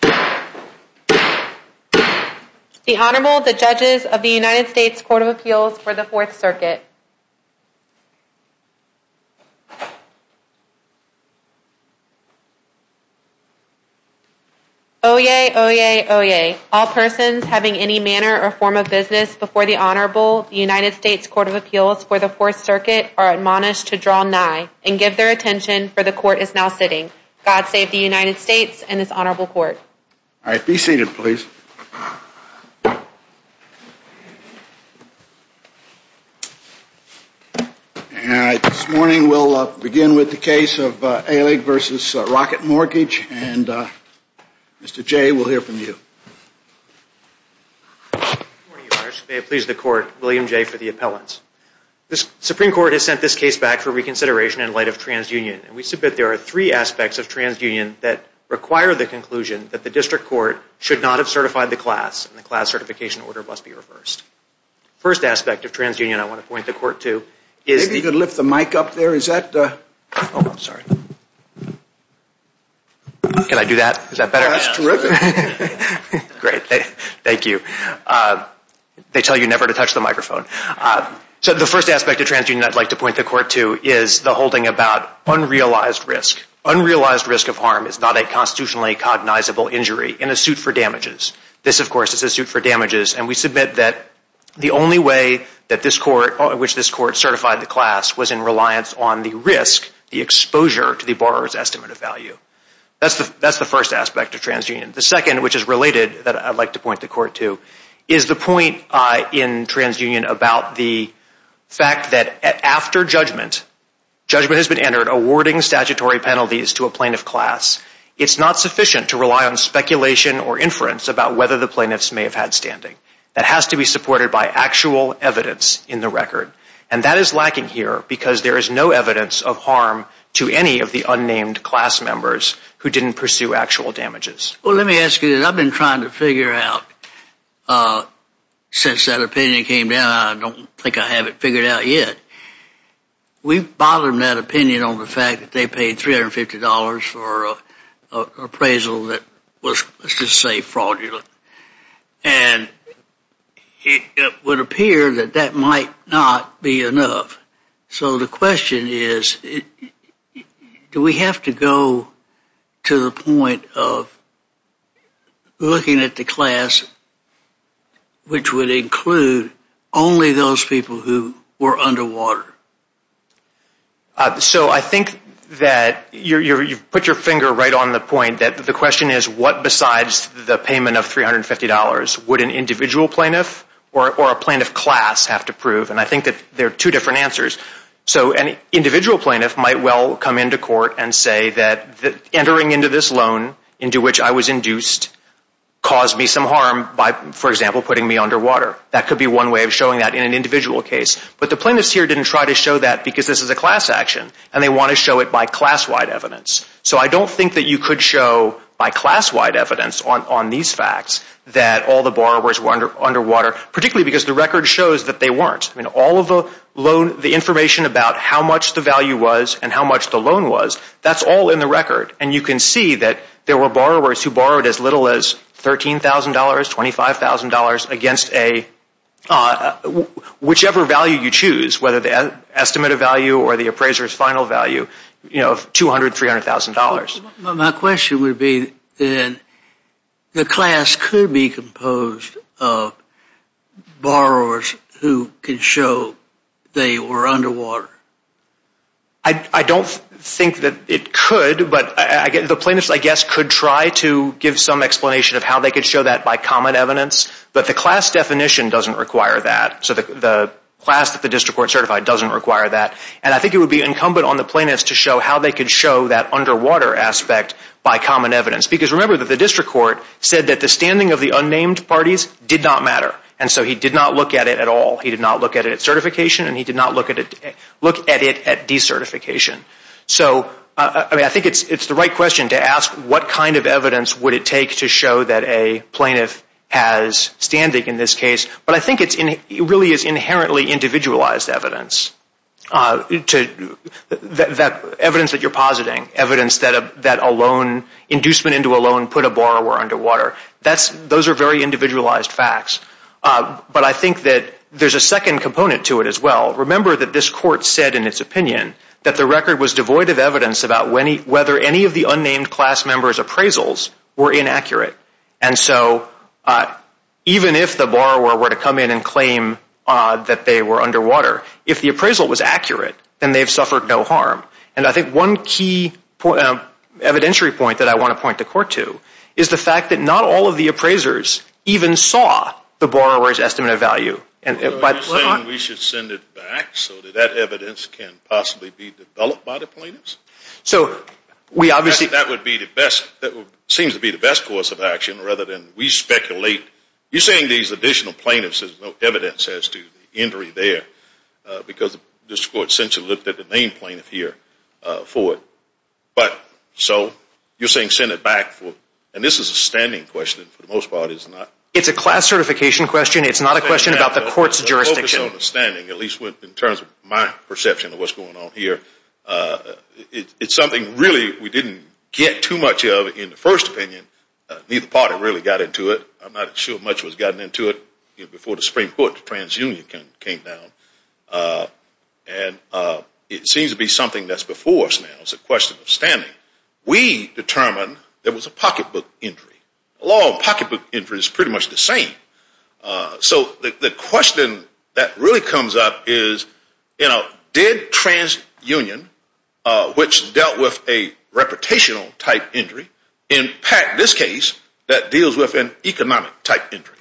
The Honorable, the Judges of the United States Court of Appeals for the Fourth Circuit. Oyez, oyez, oyez. All persons having any manner or form of business before the Honorable, the United States Court of Appeals for the Fourth Circuit, are admonished to draw nigh and give their attention, for the Court is now sitting. God save the United States and its Honorable Court. All right, be seated, please. All right, this morning we'll begin with the case of Alig v. Rocket Mortgage, and Mr. Jay will hear from you. Good morning, Your Honors. May it please the Court, William Jay for the appellants. The Supreme Court has sent this case back for reconsideration in light of TransUnion, and we submit there are three aspects of TransUnion that require the conclusion that the District Court should not have certified the class, and the class certification order must be reversed. The first aspect of TransUnion I want to point the Court to is the... Maybe you could lift the mic up there. Is that the... Oh, I'm sorry. Can I do that? Is that better? That's terrific. Great. Thank you. They tell you never to touch the microphone. So the first aspect of TransUnion I'd like to point the Court to is the holding about unrealized risk. Unrealized risk of harm is not a constitutionally cognizable injury in a suit for damages. This, of course, is a suit for damages, and we submit that the only way in which this Court certified the class was in reliance on the risk, the exposure to the borrower's estimate of value. That's the first aspect of TransUnion. The second, which is related that I'd like to point the Court to, is the point in TransUnion about the fact that after judgment, judgment has been entered, awarding statutory penalties to a plaintiff class, it's not sufficient to rely on speculation or inference about whether the plaintiffs may have had standing. That has to be supported by actual evidence in the record, and that is lacking here because there is no evidence of harm to any of the unnamed class members who didn't pursue actual damages. Well, let me ask you this. I've been trying to figure out since that opinion came down. I don't think I have it figured out yet. We've bothered them, that opinion, on the fact that they paid $350 for an appraisal that was, let's just say, fraudulent, and it would appear that that might not be enough. So the question is, do we have to go to the point of looking at the class which would include only those people who were underwater? So I think that you've put your finger right on the point that the question is, what besides the payment of $350 would an individual plaintiff or a plaintiff class have to prove? And I think that there are two different answers. So an individual plaintiff might well come into court and say that entering into this loan into which I was induced caused me some harm by, for example, putting me underwater. That could be one way of showing that in an individual case. But the plaintiffs here didn't try to show that because this is a class action, and they want to show it by class-wide evidence. So I don't think that you could show by class-wide evidence on these facts that all the borrowers were underwater, particularly because the record shows that they weren't. I mean, all of the information about how much the value was and how much the loan was, that's all in the record. And you can see that there were borrowers who borrowed as little as $13,000, $25,000 against whichever value you choose, whether the estimated value or the appraiser's final value of $200,000, $300,000. My question would be, then, the class could be composed of borrowers who can show they were underwater. I don't think that it could, but the plaintiffs, I guess, could try to give some explanation of how they could show that by common evidence. But the class definition doesn't require that. So the class that the district court certified doesn't require that. And I think it would be incumbent on the plaintiffs to show how they could show that underwater aspect by common evidence. Because remember that the district court said that the standing of the unnamed parties did not matter. And so he did not look at it at all. He did not look at it at certification, and he did not look at it at decertification. So I think it's the right question to ask what kind of evidence would it take to show that a plaintiff has standing in this case. But I think it really is inherently individualized evidence, evidence that you're positing, evidence that a loan, inducement into a loan put a borrower underwater. Those are very individualized facts. But I think that there's a second component to it as well. Remember that this court said in its opinion that the record was devoid of evidence about whether any of the unnamed class members' appraisals were inaccurate. And so even if the borrower were to come in and claim that they were underwater, if the appraisal was accurate, then they've suffered no harm. And I think one key evidentiary point that I want to point the court to is the fact that not all of the appraisers even saw the borrower's estimate of value. You're saying we should send it back so that that evidence can possibly be developed by the plaintiffs? So we obviously... That would be the best, seems to be the best course of action rather than we speculate. You're saying these additional plaintiffs have no evidence as to the injury there because this court essentially looked at the main plaintiff here for it. But so you're saying send it back for... And this is a standing question for the most part. It's a class certification question. It's not a question about the court's jurisdiction. The focus on the standing, at least in terms of my perception of what's going on here, it's something really we didn't get too much of in the first opinion. Neither party really got into it. I'm not sure much was gotten into it before the Supreme Court transunion came down. And it seems to be something that's before us now. It's a question of standing. We determined there was a pocketbook injury. A law of pocketbook injury is pretty much the same. So the question that really comes up is, you know, did transunion, which dealt with a reputational type injury, impact this case that deals with an economic type injury?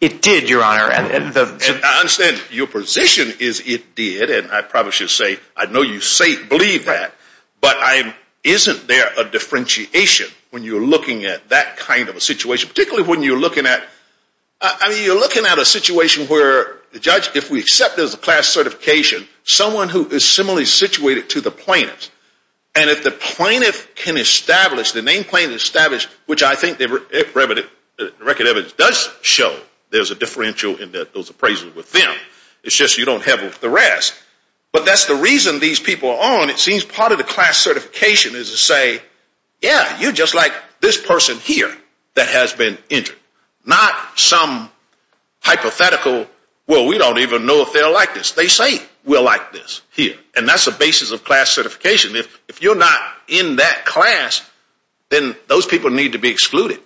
It did, Your Honor. I understand your position is it did. And I probably should say I know you believe that. But isn't there a differentiation when you're looking at that kind of a situation, particularly when you're looking at, I mean, you're looking at a situation where, Judge, if we accept there's a class certification, someone who is similarly situated to the plaintiff, And if the plaintiff can establish, the name plaintiff established, which I think the record evidence does show there's a differential in those appraisals with them. It's just you don't have the rest. But that's the reason these people are on. It seems part of the class certification is to say, yeah, you're just like this person here that has been injured. Not some hypothetical, well, we don't even know if they're like this. They say we're like this here. And that's the basis of class certification. If you're not in that class, then those people need to be excluded.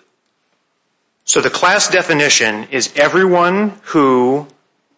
So the class definition is everyone who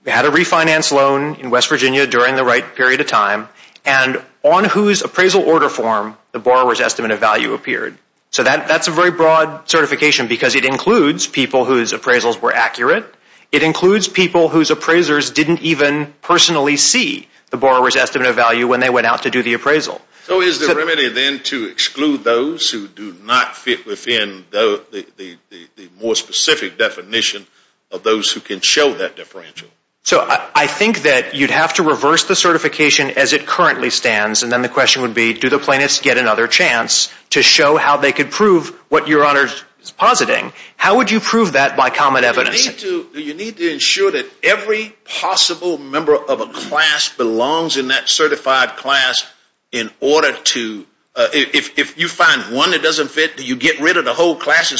had a refinance loan in West Virginia during the right period of time and on whose appraisal order form the borrower's estimate of value appeared. So that's a very broad certification because it includes people whose appraisals were accurate. It includes people whose appraisers didn't even personally see the borrower's estimate of value when they went out to do the appraisal. So is the remedy then to exclude those who do not fit within the more specific definition of those who can show that differential? So I think that you'd have to reverse the certification as it currently stands. And then the question would be, do the plaintiffs get another chance to show how they could prove what Your Honor is positing? How would you prove that by common evidence? You need to ensure that every possible member of a class belongs in that certified class in order to, if you find one that doesn't fit, do you get rid of the whole class?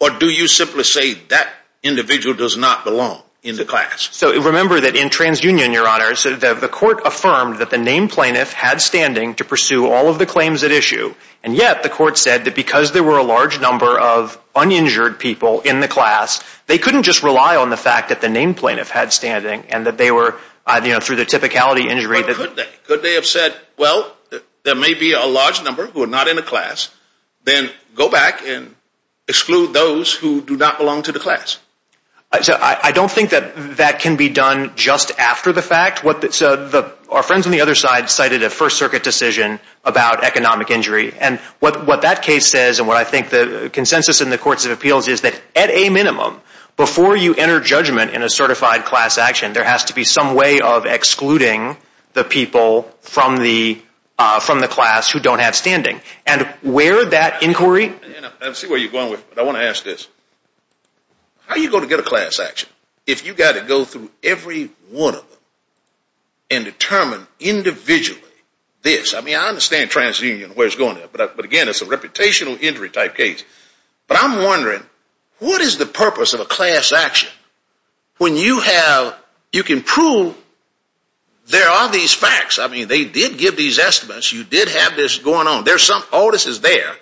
Or do you simply say that individual does not belong in the class? So remember that in TransUnion, Your Honor, the court affirmed that the named plaintiff had standing to pursue all of the claims at issue. And yet the court said that because there were a large number of uninjured people in the class, they couldn't just rely on the fact that the named plaintiff had standing and that they were, you know, through the typicality injury. But could they? Could they have said, well, there may be a large number who are not in the class. Then go back and exclude those who do not belong to the class. I don't think that that can be done just after the fact. Our friends on the other side cited a First Circuit decision about economic injury. And what that case says and what I think the consensus in the Courts of Appeals is that at a minimum, before you enter judgment in a certified class action, there has to be some way of excluding the people from the class who don't have standing. And where that inquiry... I see where you're going with this, but I want to ask this. How are you going to get a class action if you've got to go through every one of them and determine individually this? I mean, I understand transunion and where it's going, but again, it's a reputational injury type case. But I'm wondering, what is the purpose of a class action when you have... You can prove there are these facts. I mean, they did give these estimates. You did have this going on. There's some... All this is there.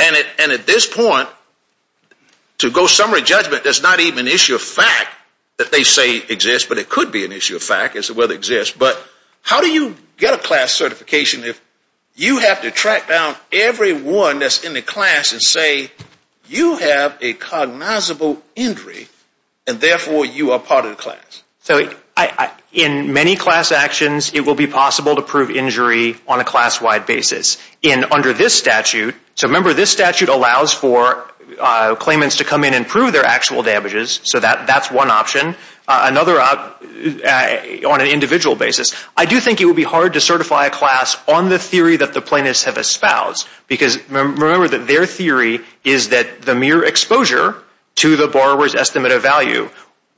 And at this point, to go summary judgment, there's not even an issue of fact that they say exists, but it could be an issue of fact as to whether it exists. But how do you get a class certification if you have to track down every one that's in the class and say, you have a cognizable injury and therefore you are part of the class? So in many class actions, it will be possible to prove injury on a class-wide basis. And under this statute, so remember this statute allows for claimants to come in and prove their actual damages. So that's one option. Another, on an individual basis, I do think it would be hard to certify a class on the theory that the plaintiffs have espoused. Because remember that their theory is that the mere exposure to the borrower's estimate of value,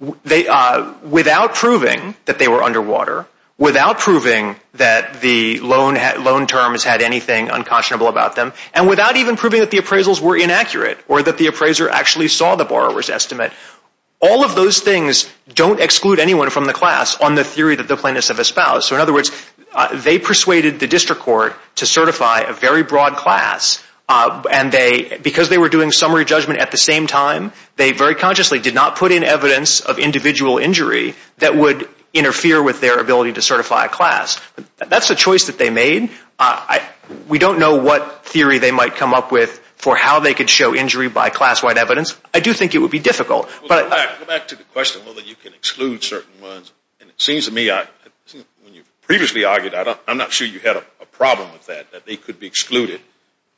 without proving that they were underwater, without proving that the loan terms had anything unconscionable about them, and without even proving that the appraisals were inaccurate or that the appraiser actually saw the borrower's estimate. All of those things don't exclude anyone from the class on the theory that the plaintiffs have espoused. So in other words, they persuaded the district court to certify a very broad class. And because they were doing summary judgment at the same time, they very consciously did not put in evidence of individual injury that would interfere with their ability to certify a class. That's a choice that they made. We don't know what theory they might come up with for how they could show injury by class-wide evidence. I do think it would be difficult. Go back to the question whether you can exclude certain ones. And it seems to me, when you previously argued, I'm not sure you had a problem with that, that they could be excluded.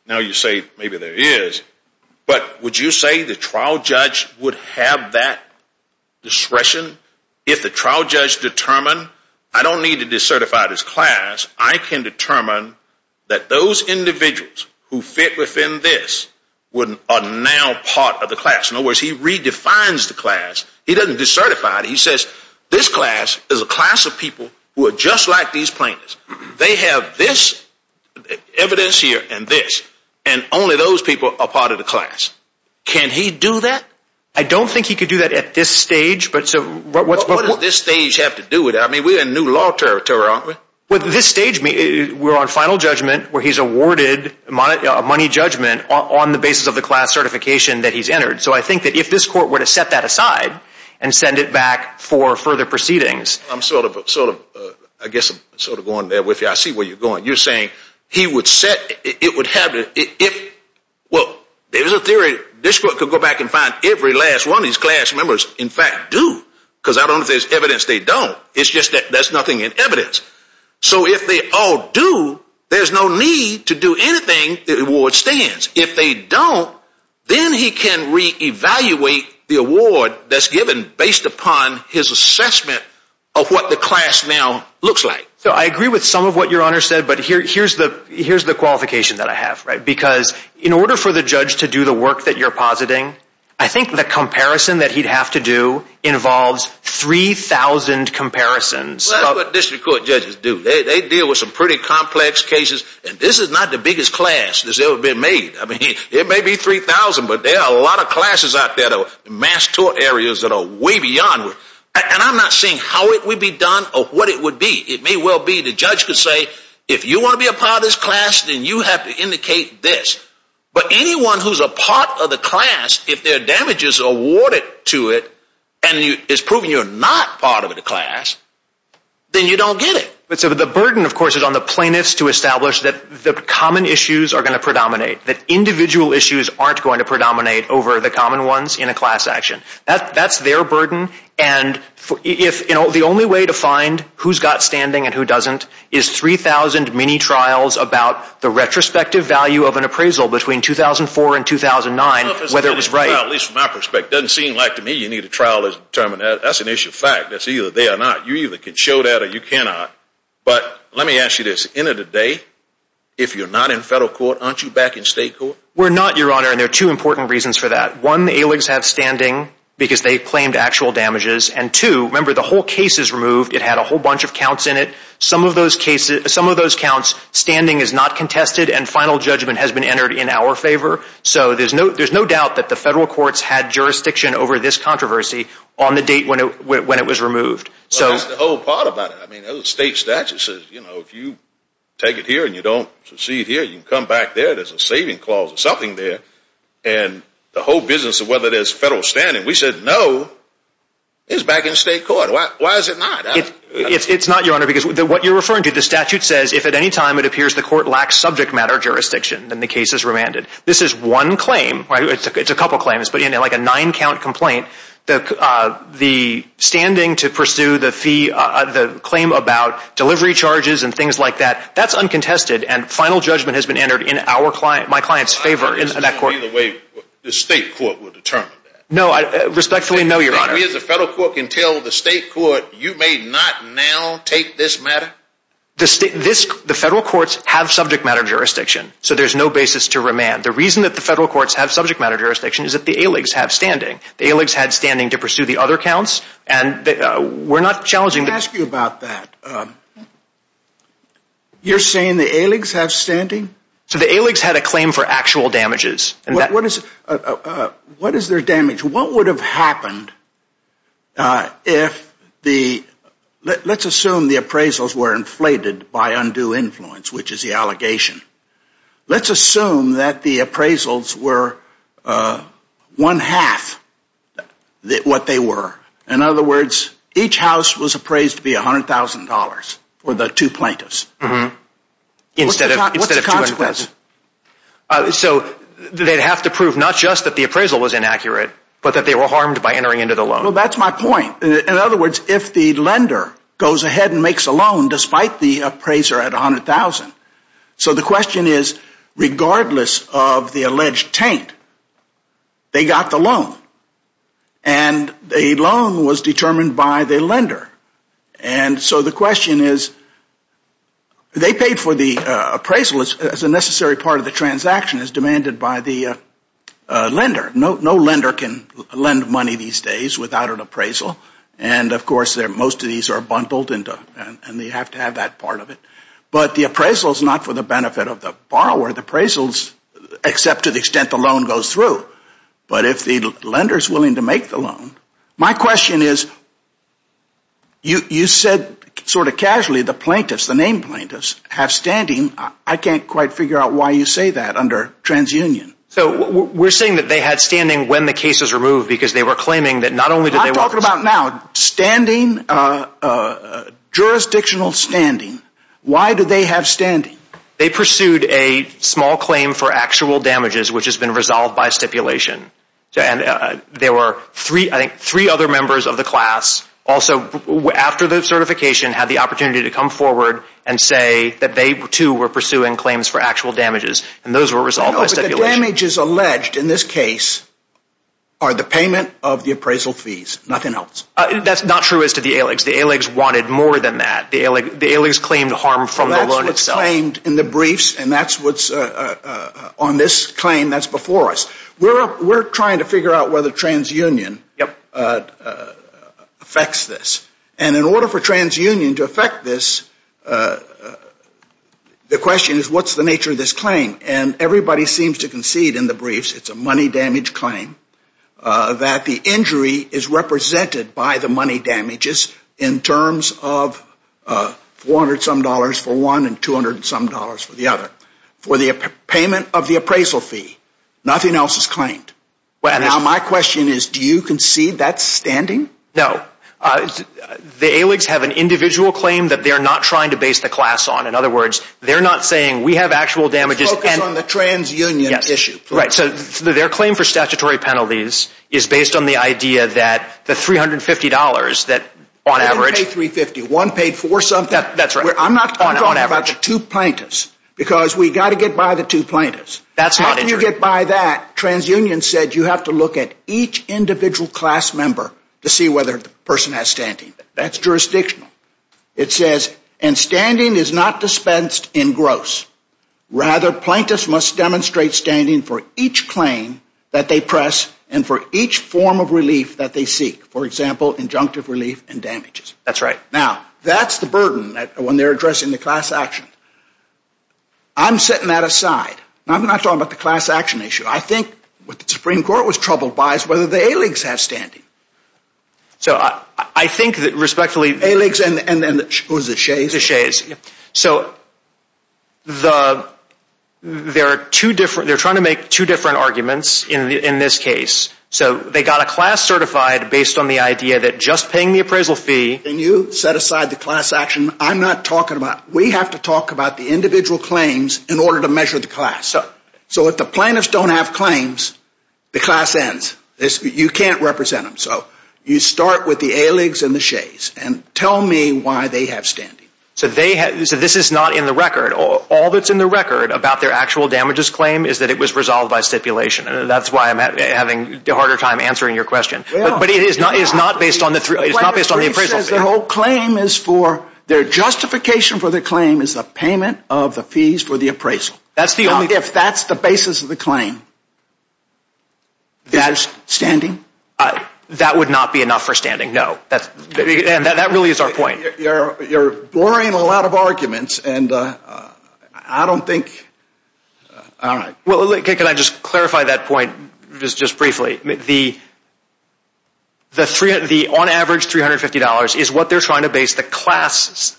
Now you say maybe there is. But would you say the trial judge would have that discretion? If the trial judge determined, I don't need to decertify this class. I can determine that those individuals who fit within this are now part of the class. In other words, he redefines the class. He doesn't decertify it. He says this class is a class of people who are just like these plaintiffs. They have this evidence here and this. And only those people are part of the class. Can he do that? I don't think he could do that at this stage. What does this stage have to do with it? I mean, we're in new law territory, aren't we? At this stage, we're on final judgment where he's awarded a money judgment on the basis of the class certification that he's entered. So I think that if this court were to set that aside and send it back for further proceedings. I'm sort of going there with you. I see where you're going. You're saying he would set, it would have, well, there's a theory. This court could go back and find every last one of these class members in fact do. Because I don't know if there's evidence they don't. It's just that there's nothing in evidence. So if they all do, there's no need to do anything. The award stands. If they don't, then he can reevaluate the award that's given based upon his assessment of what the class now looks like. So I agree with some of what your Honor said, but here's the qualification that I have. Because in order for the judge to do the work that you're positing, I think the comparison that he'd have to do involves 3,000 comparisons. Well, that's what district court judges do. They deal with some pretty complex cases, and this is not the biggest class that's ever been made. I mean, it may be 3,000, but there are a lot of classes out there, though, mass tort areas that are way beyond. And I'm not saying how it would be done or what it would be. It may well be the judge could say, if you want to be a part of this class, then you have to indicate this. But anyone who's a part of the class, if their damage is awarded to it and it's proven you're not part of the class, then you don't get it. But the burden, of course, is on the plaintiffs to establish that the common issues are going to predominate, that individual issues aren't going to predominate over the common ones in a class action. That's their burden. And the only way to find who's got standing and who doesn't is 3,000 mini trials about the retrospective value of an appraisal between 2004 and 2009, whether it was right. Well, at least from my perspective, it doesn't seem like to me you need a trial to determine that. That's an issue of fact. They are not. You either can show that or you cannot. But let me ask you this. End of the day, if you're not in federal court, aren't you back in state court? We're not, Your Honor. And there are two important reasons for that. One, the AILGS have standing because they claimed actual damages. And two, remember, the whole case is removed. It had a whole bunch of counts in it. Some of those counts, standing is not contested and final judgment has been entered in our favor. So there's no doubt that the federal courts had jurisdiction over this controversy on the date when it was removed. Well, that's the whole part about it. I mean, the state statute says, you know, if you take it here and you don't proceed here, you can come back there. There's a saving clause or something there. And the whole business of whether there's federal standing, we said no, it's back in state court. Why is it not? It's not, Your Honor, because what you're referring to, the statute says if at any time it appears the court lacks subject matter jurisdiction, then the case is remanded. This is one claim. It's a couple of claims, but, you know, like a nine-count complaint. The standing to pursue the claim about delivery charges and things like that, that's uncontested. And final judgment has been entered in my client's favor in that court. Either way, the state court will determine that. No, respectfully, no, Your Honor. We as a federal court can tell the state court you may not now take this matter? The federal courts have subject matter jurisdiction, so there's no basis to remand. The reason that the federal courts have subject matter jurisdiction is that the ALIGs have standing. The ALIGs had standing to pursue the other counts, and we're not challenging. Let me ask you about that. You're saying the ALIGs have standing? So the ALIGs had a claim for actual damages. What is their damage? What would have happened if the – let's assume the appraisals were inflated by undue influence, which is the allegation. Let's assume that the appraisals were one-half what they were. In other words, each house was appraised to be $100,000 for the two plaintiffs. What's the consequence? So they'd have to prove not just that the appraisal was inaccurate, but that they were harmed by entering into the loan. Well, that's my point. In other words, if the lender goes ahead and makes a loan despite the appraiser at $100,000, so the question is regardless of the alleged taint, they got the loan, and the loan was determined by the lender. And so the question is they paid for the appraisal as a necessary part of the transaction as demanded by the lender. No lender can lend money these days without an appraisal. And, of course, most of these are bundled, and they have to have that part of it. But the appraisal is not for the benefit of the borrower. The appraisal is except to the extent the loan goes through. But if the lender is willing to make the loan, my question is you said sort of casually the plaintiffs, the named plaintiffs, have standing. I can't quite figure out why you say that under transunion. So we're saying that they had standing when the case was removed because they were claiming that not only did they want this. I'm talking about now standing, jurisdictional standing. Why do they have standing? They pursued a small claim for actual damages, which has been resolved by stipulation. And there were, I think, three other members of the class also after the certification had the opportunity to come forward and say that they, too, were pursuing claims for actual damages. And those were resolved by stipulation. No, but the damages alleged in this case are the payment of the appraisal fees, nothing else. That's not true as to the ALEGS. The ALEGS wanted more than that. The ALEGS claimed harm from the loan itself. They claimed in the briefs, and that's what's on this claim that's before us. We're trying to figure out whether transunion affects this. And in order for transunion to affect this, the question is what's the nature of this claim? And everybody seems to concede in the briefs it's a money damage claim, that the injury is represented by the money damages in terms of $400-some dollars for one and $200-some dollars for the other. For the payment of the appraisal fee, nothing else is claimed. Now, my question is do you concede that's standing? No. The ALEGS have an individual claim that they're not trying to base the class on. In other words, they're not saying we have actual damages. Focus on the transunion issue. Right. So their claim for statutory penalties is based on the idea that the $350 that on average. One paid $350. One paid $400-something. That's right. I'm not talking about the two plaintiffs because we've got to get by the two plaintiffs. That's not injury. How can you get by that? Transunion said you have to look at each individual class member to see whether the person has standing. That's jurisdictional. It says, and standing is not dispensed in gross. Rather, plaintiffs must demonstrate standing for each claim that they press and for each form of relief that they seek. For example, injunctive relief and damages. That's right. Now, that's the burden when they're addressing the class action. I'm setting that aside. I'm not talking about the class action issue. I think what the Supreme Court was troubled by is whether the ALEGS have standing. So, I think that respectfully… ALEGS and who is it? The Shays. The Shays. So, they're trying to make two different arguments in this case. So, they got a class certified based on the idea that just paying the appraisal fee… And you set aside the class action. I'm not talking about… We have to talk about the individual claims in order to measure the class. So, if the plaintiffs don't have claims, the class ends. You can't represent them. So, you start with the ALEGS and the Shays and tell me why they have standing. So, this is not in the record. All that's in the record about their actual damages claim is that it was resolved by stipulation. That's why I'm having a harder time answering your question. But it is not based on the appraisal fee. The whole claim is for their justification for the claim is the payment of the fees for the appraisal. If that's the basis of the claim, that is standing? That would not be enough for standing, no. That really is our point. You're blurring a lot of arguments and I don't think… Well, can I just clarify that point just briefly? The on average $350 is what they're trying to base the class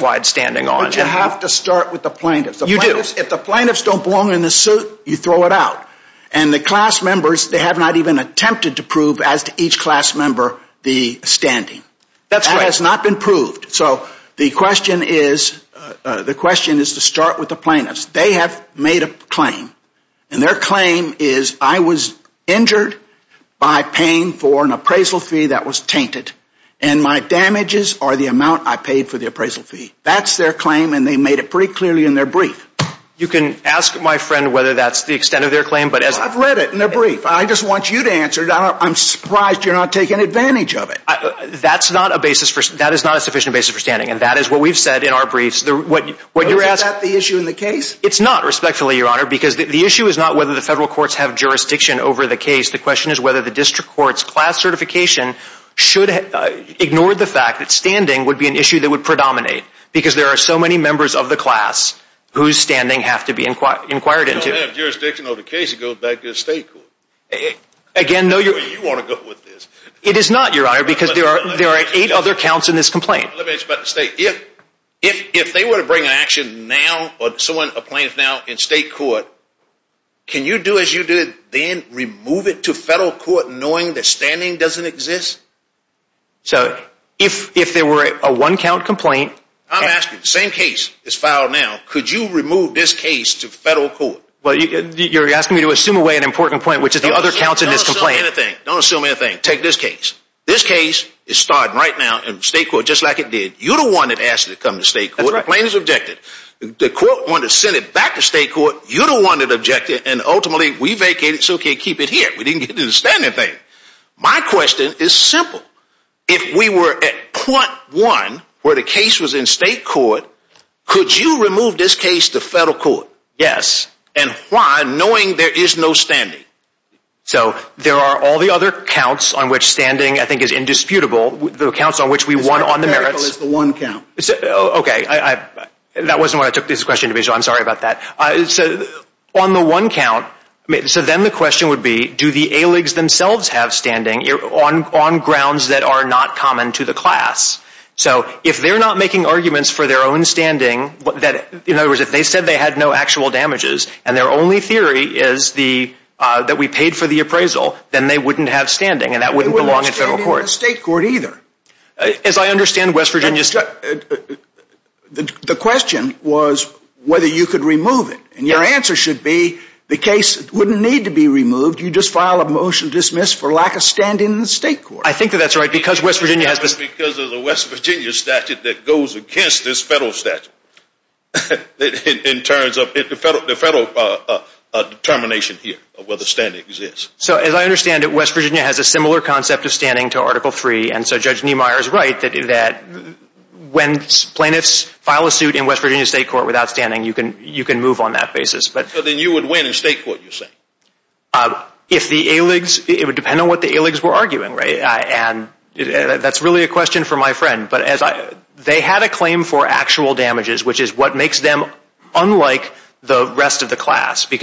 wide standing on. You have to start with the plaintiffs. You do. If the plaintiffs don't belong in the suit, you throw it out. And the class members, they have not even attempted to prove as to each class member the standing. That's right. That has not been proved. So, the question is to start with the plaintiffs. They have made a claim. And their claim is I was injured by paying for an appraisal fee that was tainted. And my damages are the amount I paid for the appraisal fee. That's their claim and they made it pretty clearly in their brief. You can ask my friend whether that's the extent of their claim. I've read it in their brief. I just want you to answer it. I'm surprised you're not taking advantage of it. That is not a sufficient basis for standing. And that is what we've said in our briefs. Is that the issue in the case? It's not, respectfully, Your Honor, because the issue is not whether the federal courts have jurisdiction over the case. The question is whether the district court's class certification should ignore the fact that standing would be an issue that would predominate. Because there are so many members of the class whose standing have to be inquired into. You don't have jurisdiction over the case. It goes back to the state court. Again, no, Your Honor. You want to go with this. It is not, Your Honor, because there are eight other counts in this complaint. Let me ask you about the state. If they were to bring an action now or someone applies now in state court, can you do as you did then, remove it to federal court knowing that standing doesn't exist? So, if there were a one-count complaint. I'm asking the same case is filed now. Could you remove this case to federal court? You're asking me to assume away an important point, which is the other counts in this complaint. Don't assume anything. Take this case. This case is starting right now in state court just like it did. You're the one that asked it to come to state court. The plaintiff's objected. The court wanted to send it back to state court. You're the one that objected. And ultimately, we vacated it so we could keep it here. We didn't get to the standing thing. My question is simple. If we were at point one where the case was in state court, could you remove this case to federal court? Yes. And why, knowing there is no standing? So, there are all the other counts on which standing, I think, is indisputable. The accounts on which we won on the merits. The one count. Okay. That wasn't what I took this question to be, so I'm sorry about that. So, on the one count, so then the question would be, do the ALIGs themselves have standing on grounds that are not common to the class? So, if they're not making arguments for their own standing, in other words, if they said they had no actual damages and their only theory is that we paid for the appraisal, then they wouldn't have standing and that wouldn't belong in federal court. It wouldn't belong in state court either. As I understand West Virginia... The question was whether you could remove it. And your answer should be the case wouldn't need to be removed. You just file a motion to dismiss for lack of standing in the state court. I think that that's right because West Virginia has... Because of the West Virginia statute that goes against this federal statute in terms of the federal determination here of whether standing exists. So, as I understand it, West Virginia has a similar concept of standing to Article III. And so Judge Niemeyer is right that when plaintiffs file a suit in West Virginia state court without standing, you can move on that basis. So then you would win in state court, you're saying? If the ALIGs, it would depend on what the ALIGs were arguing, right? And that's really a question for my friend. But they had a claim for actual damages, which is what makes them unlike the rest of the class. And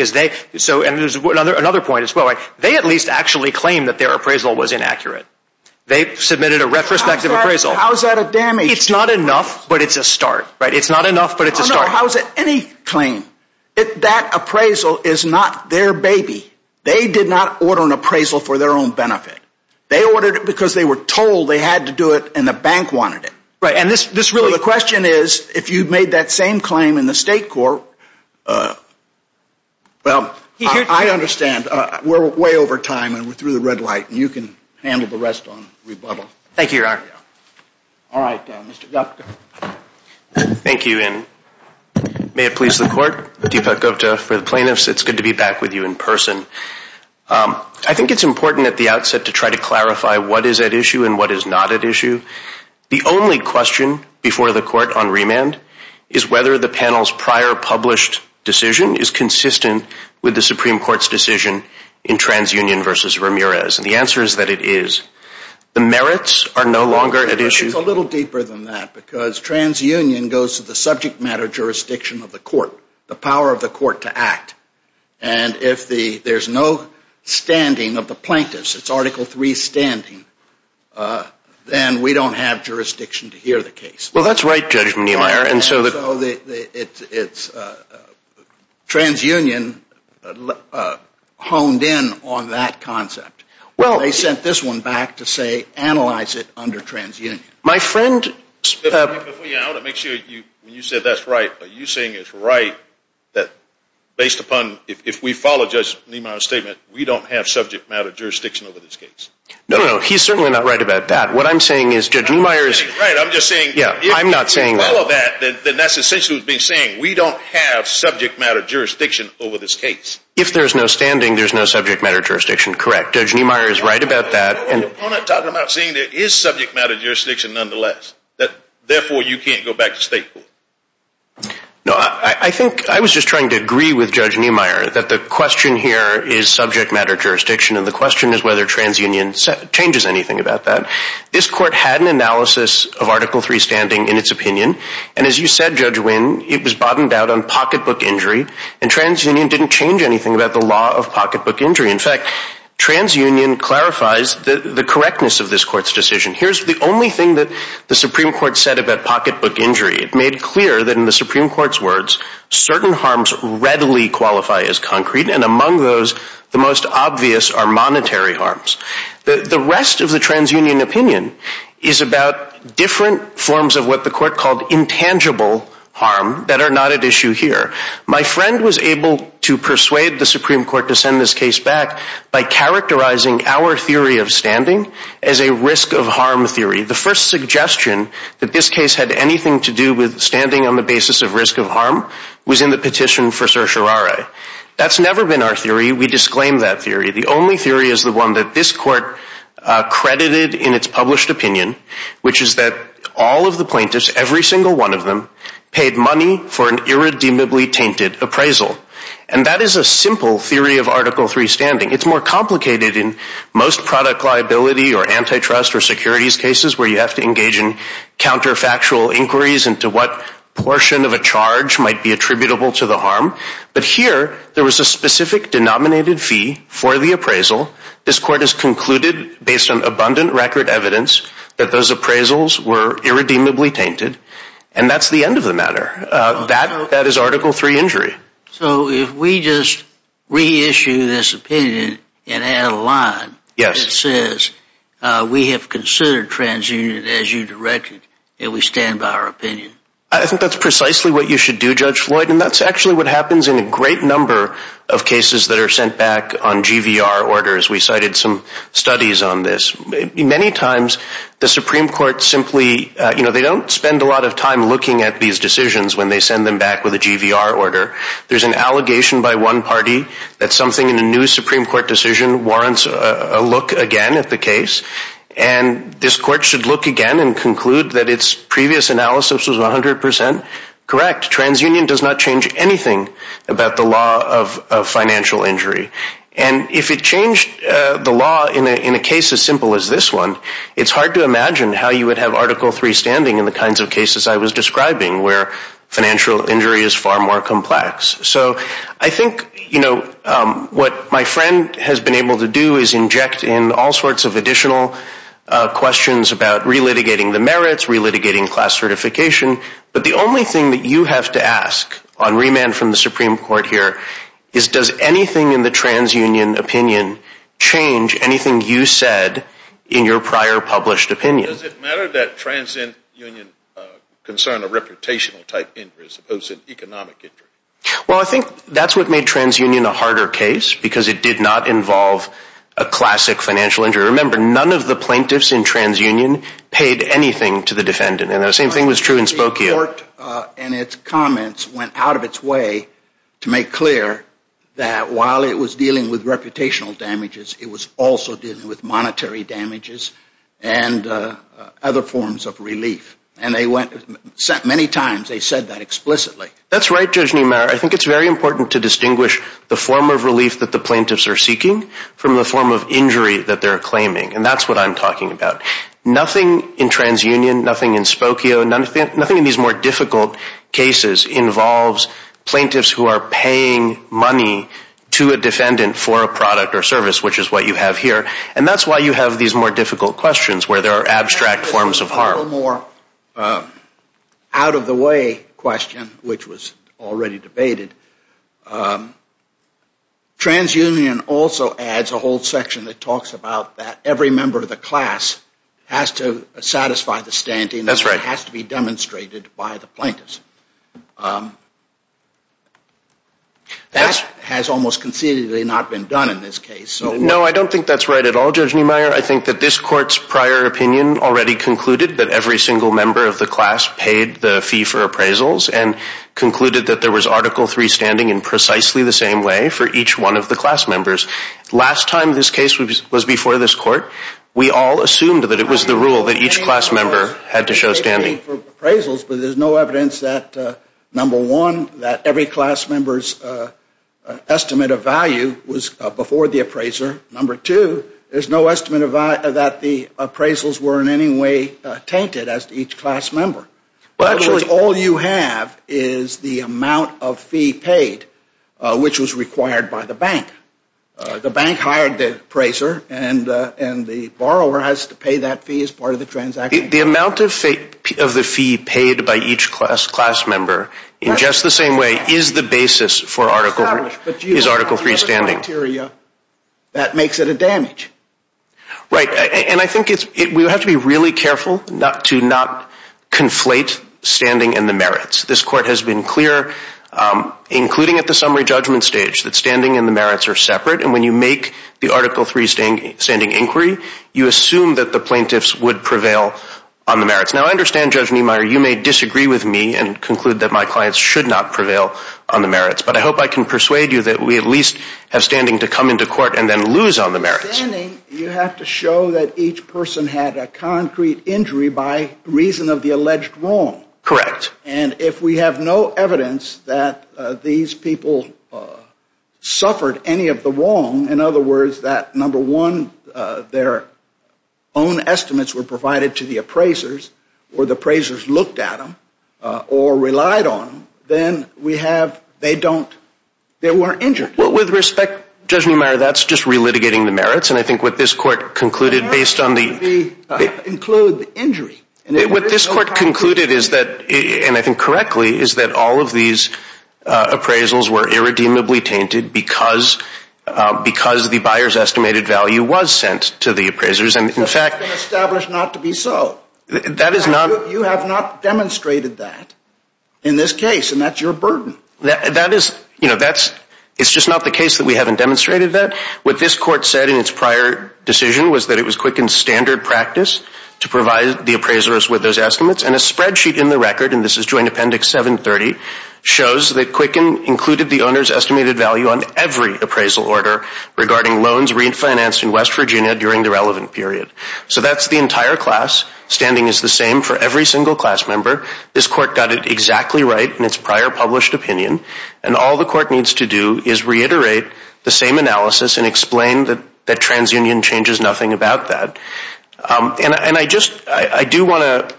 there's another point as well. They at least actually claim that their appraisal was inaccurate. They submitted a retrospective appraisal. How is that a damage? It's not enough, but it's a start. It's not enough, but it's a start. How is it any claim? That appraisal is not their baby. They did not order an appraisal for their own benefit. They ordered it because they were told they had to do it and the bank wanted it. So the question is, if you made that same claim in the state court, well, I understand. We're way over time and we're through the red light and you can handle the rest on rebuttal. Thank you, Your Honor. All right, Mr. Gupta. Thank you, and may it please the court, Deepak Gupta, for the plaintiffs, it's good to be back with you in person. I think it's important at the outset to try to clarify what is at issue and what is not at issue. The only question before the court on remand is whether the panel's prior published decision is consistent with the Supreme Court's decision in TransUnion versus Ramirez. And the answer is that it is. The merits are no longer at issue. It's a little deeper than that because TransUnion goes to the subject matter jurisdiction of the court, the power of the court to act. And if there's no standing of the plaintiffs, it's Article III standing, then we don't have jurisdiction to hear the case. Well, that's right, Judge Neumeier. So it's TransUnion honed in on that concept. They sent this one back to say analyze it under TransUnion. Before you go, I want to make sure you said that's right. Are you saying it's right that based upon if we follow Judge Neumeier's statement, we don't have subject matter jurisdiction over this case? No, no, he's certainly not right about that. What I'm saying is Judge Neumeier is right. I'm just saying, yeah, I'm not saying that. If you follow that, then that's essentially what he's been saying. We don't have subject matter jurisdiction over this case. If there's no standing, there's no subject matter jurisdiction. Correct. Judge Neumeier is right about that. I'm not talking about saying there is subject matter jurisdiction nonetheless, that therefore you can't go back to state court. No, I think I was just trying to agree with Judge Neumeier that the question here is subject matter jurisdiction. And the question is whether TransUnion changes anything about that. This court had an analysis of Article III standing in its opinion. And as you said, Judge Wynn, it was bottomed out on pocketbook injury. And TransUnion didn't change anything about the law of pocketbook injury. In fact, TransUnion clarifies the correctness of this court's decision. Here's the only thing that the Supreme Court said about pocketbook injury. It made clear that in the Supreme Court's words, certain harms readily qualify as concrete. And among those, the most obvious are monetary harms. The rest of the TransUnion opinion is about different forms of what the court called intangible harm that are not at issue here. My friend was able to persuade the Supreme Court to send this case back by characterizing our theory of standing as a risk of harm theory. The first suggestion that this case had anything to do with standing on the basis of risk of harm was in the petition for certiorari. That's never been our theory. We disclaim that theory. The only theory is the one that this court credited in its published opinion, which is that all of the plaintiffs, every single one of them, paid money for an irredeemably tainted appraisal. And that is a simple theory of Article III standing. It's more complicated in most product liability or antitrust or securities cases where you have to engage in counterfactual inquiries into what portion of a charge might be attributable to the harm. But here, there was a specific denominated fee for the appraisal. This court has concluded, based on abundant record evidence, that those appraisals were irredeemably tainted. And that's the end of the matter. That is Article III injury. So if we just reissue this opinion and add a line that says we have considered TransUnion as you directed, it would stand by our opinion. I think that's precisely what you should do, Judge Floyd. And that's actually what happens in a great number of cases that are sent back on GVR orders. We cited some studies on this. Many times, the Supreme Court simply, you know, they don't spend a lot of time looking at these decisions when they send them back with a GVR order. There's an allegation by one party that something in a new Supreme Court decision warrants a look again at the case. And this court should look again and conclude that its previous analysis was 100% correct. TransUnion does not change anything about the law of financial injury. And if it changed the law in a case as simple as this one, it's hard to imagine how you would have Article III standing in the kinds of cases I was describing, where financial injury is far more complex. So I think, you know, what my friend has been able to do is inject in all sorts of additional questions about re-litigating the merits, re-litigating class certification. But the only thing that you have to ask on remand from the Supreme Court here is does anything in the TransUnion opinion change anything you said in your prior published opinion? Does it matter that TransUnion concern a reputational type injury as opposed to an economic injury? Well, I think that's what made TransUnion a harder case because it did not involve a classic financial injury. Remember, none of the plaintiffs in TransUnion paid anything to the defendant. And the same thing was true in Spokane. The court in its comments went out of its way to make clear that while it was dealing with reputational damages, it was also dealing with monetary damages and other forms of relief. And they went, many times they said that explicitly. That's right, Judge Niemeyer. I think it's very important to distinguish the form of relief that the plaintiffs are seeking from the form of injury that they're claiming. And that's what I'm talking about. Nothing in TransUnion, nothing in Spokane, nothing in these more difficult cases involves plaintiffs who are paying money to a defendant for a product or service, which is what you have here. And that's why you have these more difficult questions where there are abstract forms of harm. One more out-of-the-way question, which was already debated. TransUnion also adds a whole section that talks about that every member of the class has to satisfy the standing that has to be demonstrated by the plaintiffs. That has almost concededly not been done in this case. No, I don't think that's right at all, Judge Niemeyer. I think that this court's prior opinion already concluded that every single member of the class paid the fee for appraisals and concluded that there was Article III standing in precisely the same way for each one of the class members. Last time this case was before this court, we all assumed that it was the rule that each class member had to show standing. Appraisals, but there's no evidence that, number one, that every class member's estimate of value was before the appraiser. Number two, there's no estimate that the appraisals were in any way tainted as to each class member. All you have is the amount of fee paid, which was required by the bank. The bank hired the appraiser, and the borrower has to pay that fee as part of the transaction. The amount of the fee paid by each class member in just the same way is the basis for Article III standing. That makes it a damage. Right, and I think we have to be really careful to not conflate standing and the merits. This court has been clear, including at the summary judgment stage, that standing and the merits are separate, and when you make the Article III standing inquiry, you assume that the plaintiffs would prevail on the merits. Now, I understand, Judge Niemeyer, you may disagree with me and conclude that my clients should not prevail on the merits, but I hope I can persuade you that we at least have standing to come into court and then lose on the merits. Standing, you have to show that each person had a concrete injury by reason of the alleged wrong. Correct. And if we have no evidence that these people suffered any of the wrong, in other words, that, number one, their own estimates were provided to the appraisers or the appraisers looked at them or relied on them, then we have, they don't, they weren't injured. Well, with respect, Judge Niemeyer, that's just relitigating the merits, and I think what this court concluded based on the... The merits include the injury. What this court concluded is that, and I think correctly, is that all of these appraisals were irredeemably tainted because the buyer's estimated value was sent to the appraisers, and in fact... That's been established not to be so. That is not... You have not demonstrated that in this case, and that's your burden. That is, you know, that's, it's just not the case that we haven't demonstrated that. What this court said in its prior decision was that it was Quicken's standard practice to provide the appraisers with those estimates, and a spreadsheet in the record, and this is Joint Appendix 730, shows that Quicken included the owner's estimated value on every appraisal order regarding loans refinanced in West Virginia during the relevant period. So that's the entire class. Standing is the same for every single class member. This court got it exactly right in its prior published opinion, and all the court needs to do is reiterate the same analysis and explain that TransUnion changes nothing about that. And I just, I do want to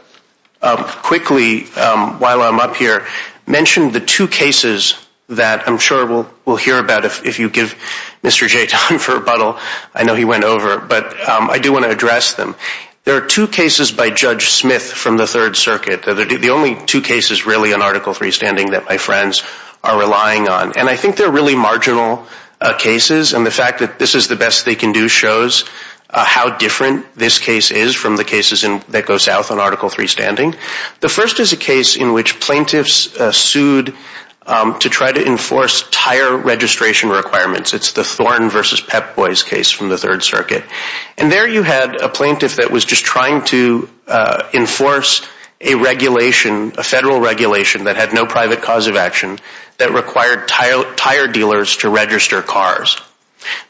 quickly, while I'm up here, mention the two cases that I'm sure we'll hear about if you give Mr. Jay time for rebuttal. I know he went over, but I do want to address them. There are two cases by Judge Smith from the Third Circuit. The only two cases really on Article III Standing that my friends are relying on, and I think they're really marginal cases, and the fact that this is the best they can do shows how different this case is from the cases that go south on Article III Standing. The first is a case in which plaintiffs sued to try to enforce tire registration requirements. It's the Thorn v. Pep Boys case from the Third Circuit. And there you had a plaintiff that was just trying to enforce a regulation, a federal regulation that had no private cause of action that required tire dealers to register cars.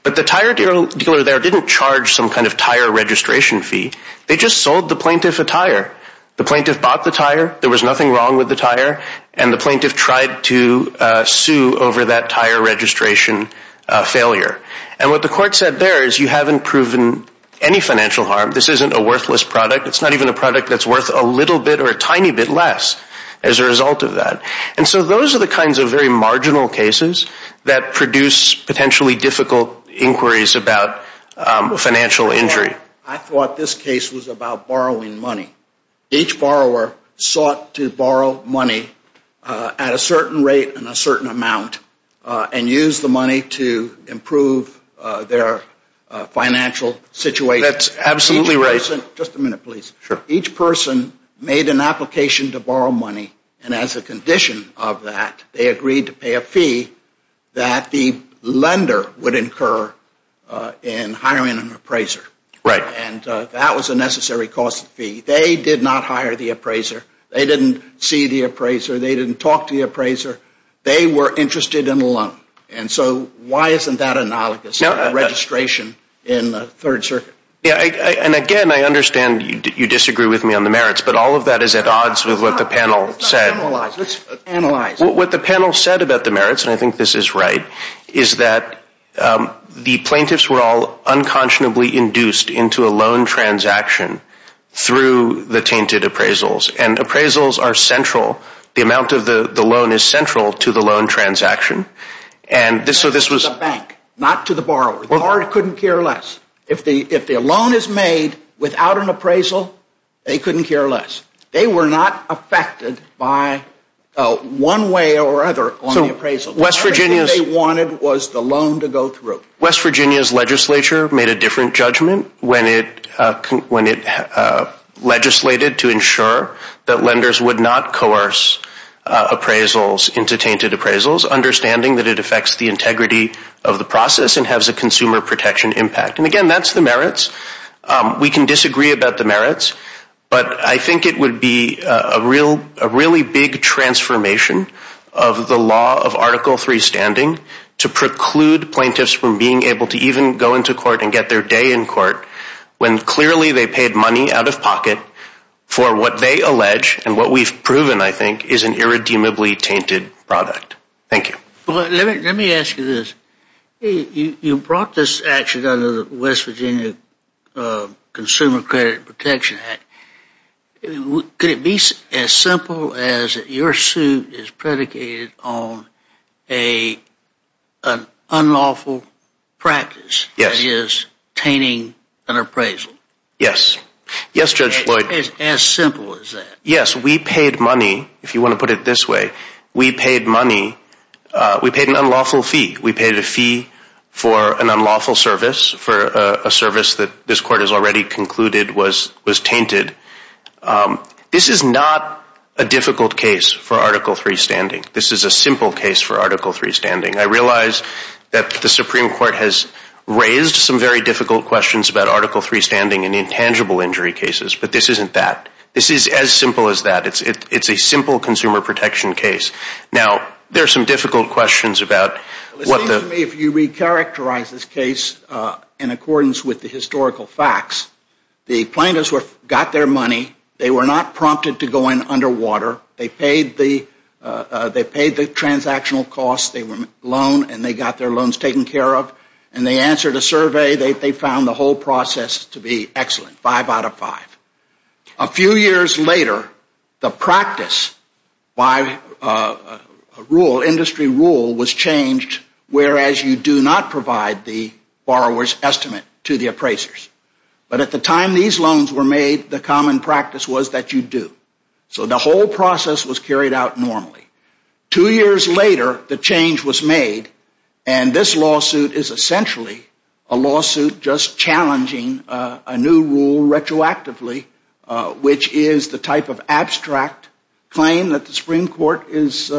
But the tire dealer there didn't charge some kind of tire registration fee. They just sold the plaintiff a tire. The plaintiff bought the tire. There was nothing wrong with the tire. And the plaintiff tried to sue over that tire registration failure. And what the court said there is you haven't proven any financial harm. This isn't a worthless product. It's not even a product that's worth a little bit or a tiny bit less as a result of that. And so those are the kinds of very marginal cases that produce potentially difficult inquiries about financial injury. I thought this case was about borrowing money. Each borrower sought to borrow money at a certain rate and a certain amount and use the money to improve their financial situation. That's absolutely right. Just a minute, please. Sure. Each person made an application to borrow money, and as a condition of that, they agreed to pay a fee that the lender would incur in hiring an appraiser. Right. And that was a necessary cost fee. They did not hire the appraiser. They didn't see the appraiser. They didn't talk to the appraiser. They were interested in a loan. And so why isn't that analogous to registration in the Third Circuit? And, again, I understand you disagree with me on the merits, but all of that is at odds with what the panel said. Let's analyze. What the panel said about the merits, and I think this is right, is that the plaintiffs were all unconscionably induced into a loan transaction through the tainted appraisals. And appraisals are central. The amount of the loan is central to the loan transaction. This was a bank, not to the borrower. The borrower couldn't care less. If a loan is made without an appraisal, they couldn't care less. They were not affected by one way or other on the appraisal. All they wanted was the loan to go through. West Virginia's legislature made a different judgment when it legislated to ensure that lenders would not coerce appraisals into tainted appraisals, understanding that it affects the integrity of the process and has a consumer protection impact. And, again, that's the merits. We can disagree about the merits, but I think it would be a really big transformation of the law of Article III standing to preclude plaintiffs from being able to even go into court and get their day in court when clearly they paid money out of pocket for what they allege and what we've proven, I think, is an irredeemably tainted product. Thank you. Let me ask you this. You brought this action under the West Virginia Consumer Credit Protection Act. Could it be as simple as your suit is predicated on an unlawful practice? Yes. That is, tainting an appraisal? Yes. As simple as that? Yes. If you want to put it this way, we paid money. We paid an unlawful fee. We paid a fee for an unlawful service, for a service that this Court has already concluded was tainted. This is not a difficult case for Article III standing. This is a simple case for Article III standing. I realize that the Supreme Court has raised some very difficult questions about Article III standing in intangible injury cases, but this isn't that. This is as simple as that. It's a simple consumer protection case. Now, there are some difficult questions about what the- It seems to me if you recharacterize this case in accordance with the historical facts, the plaintiffs got their money. They were not prompted to go in underwater. They paid the transactional costs. They were loaned, and they got their loans taken care of, and they answered a survey. They found the whole process to be excellent, five out of five. A few years later, the practice by industry rule was changed, whereas you do not provide the borrower's estimate to the appraisers. But at the time these loans were made, the common practice was that you do. So the whole process was carried out normally. Two years later, the change was made, and this lawsuit is essentially a lawsuit just challenging a new rule retroactively, which is the type of abstract claim that the Supreme Court is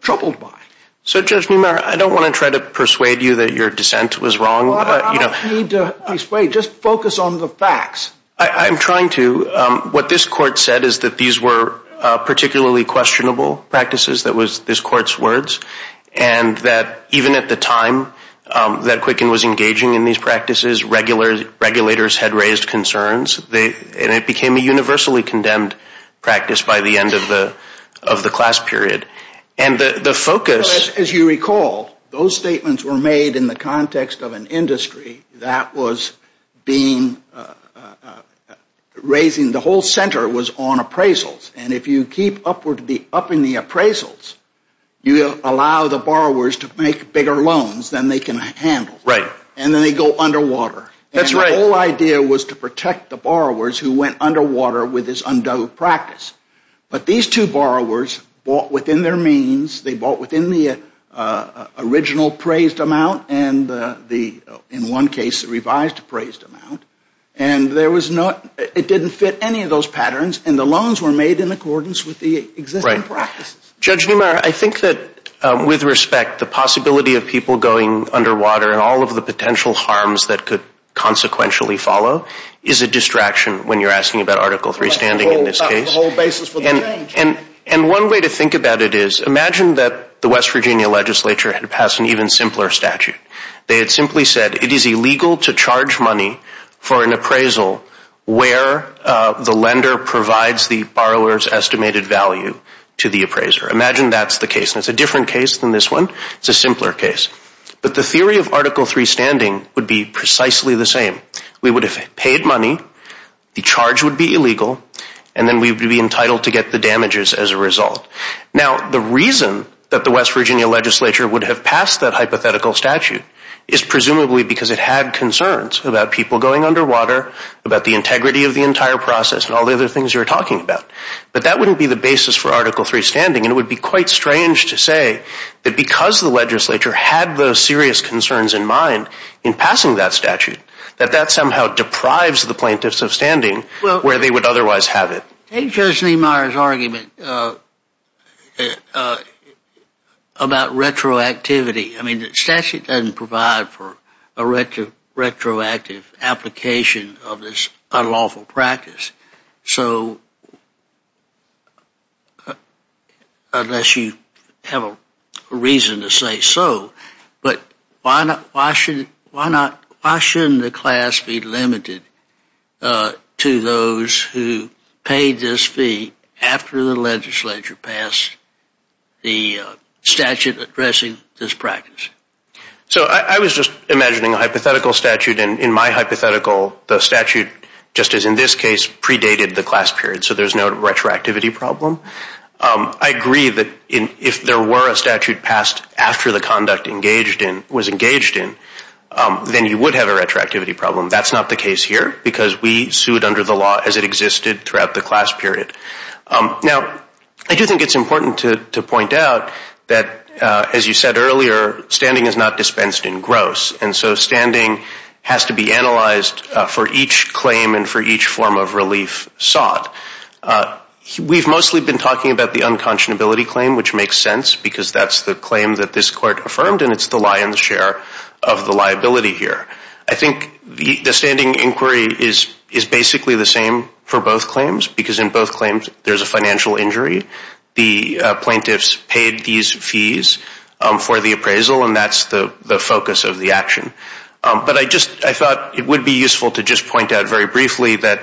troubled by. So, Judge Neumayer, I don't want to try to persuade you that your dissent was wrong. Well, I don't need to persuade. Just focus on the facts. I'm trying to. What this court said is that these were particularly questionable practices. That was this court's words, and that even at the time that Quicken was engaging in these practices, regulators had raised concerns, and it became a universally condemned practice by the end of the class period. As you recall, those statements were made in the context of an industry that was raising the whole center was on appraisals, and if you keep upping the appraisals, you allow the borrowers to make bigger loans than they can handle. Right. And then they go underwater. That's right. And the whole idea was to protect the borrowers who went underwater with this undoubted practice. But these two borrowers bought within their means. They bought within the original appraised amount and, in one case, the revised appraised amount, and it didn't fit any of those patterns, and the loans were made in accordance with the existing practices. Judge Neumeyer, I think that, with respect, the possibility of people going underwater and all of the potential harms that could consequentially follow is a distraction when you're asking about Article III standing in this case. About the whole basis for the change. And one way to think about it is imagine that the West Virginia legislature had passed an even simpler statute. They had simply said it is illegal to charge money for an appraisal where the lender provides the borrower's estimated value to the appraiser. Imagine that's the case. And it's a different case than this one. It's a simpler case. But the theory of Article III standing would be precisely the same. We would have paid money, the charge would be illegal, and then we would be entitled to get the damages as a result. Now, the reason that the West Virginia legislature would have passed that hypothetical statute is presumably because it had concerns about people going underwater, about the integrity of the entire process, and all the other things you were talking about. But that wouldn't be the basis for Article III standing, and it would be quite strange to say that because the legislature had those serious concerns in mind in passing that statute, that that somehow deprives the plaintiffs of standing where they would otherwise have it. Take Judge Neumeyer's argument about retroactivity. I mean, the statute doesn't provide for a retroactive application of this unlawful practice. So, unless you have a reason to say so, but why shouldn't the class be limited to those who paid this fee after the legislature passed the statute addressing this practice? So, I was just imagining a hypothetical statute, and in my hypothetical, the statute, just as in this case, predated the class period, so there's no retroactivity problem. I agree that if there were a statute passed after the conduct was engaged in, then you would have a retroactivity problem. That's not the case here because we sued under the law as it existed throughout the class period. Now, I do think it's important to point out that, as you said earlier, standing is not dispensed in gross, and so standing has to be analyzed for each claim and for each form of relief sought. We've mostly been talking about the unconscionability claim, which makes sense because that's the claim that this court affirmed, and it's the lion's share of the liability here. I think the standing inquiry is basically the same for both claims because in both claims there's a financial injury. The plaintiffs paid these fees for the appraisal, and that's the focus of the action. But I thought it would be useful to just point out very briefly that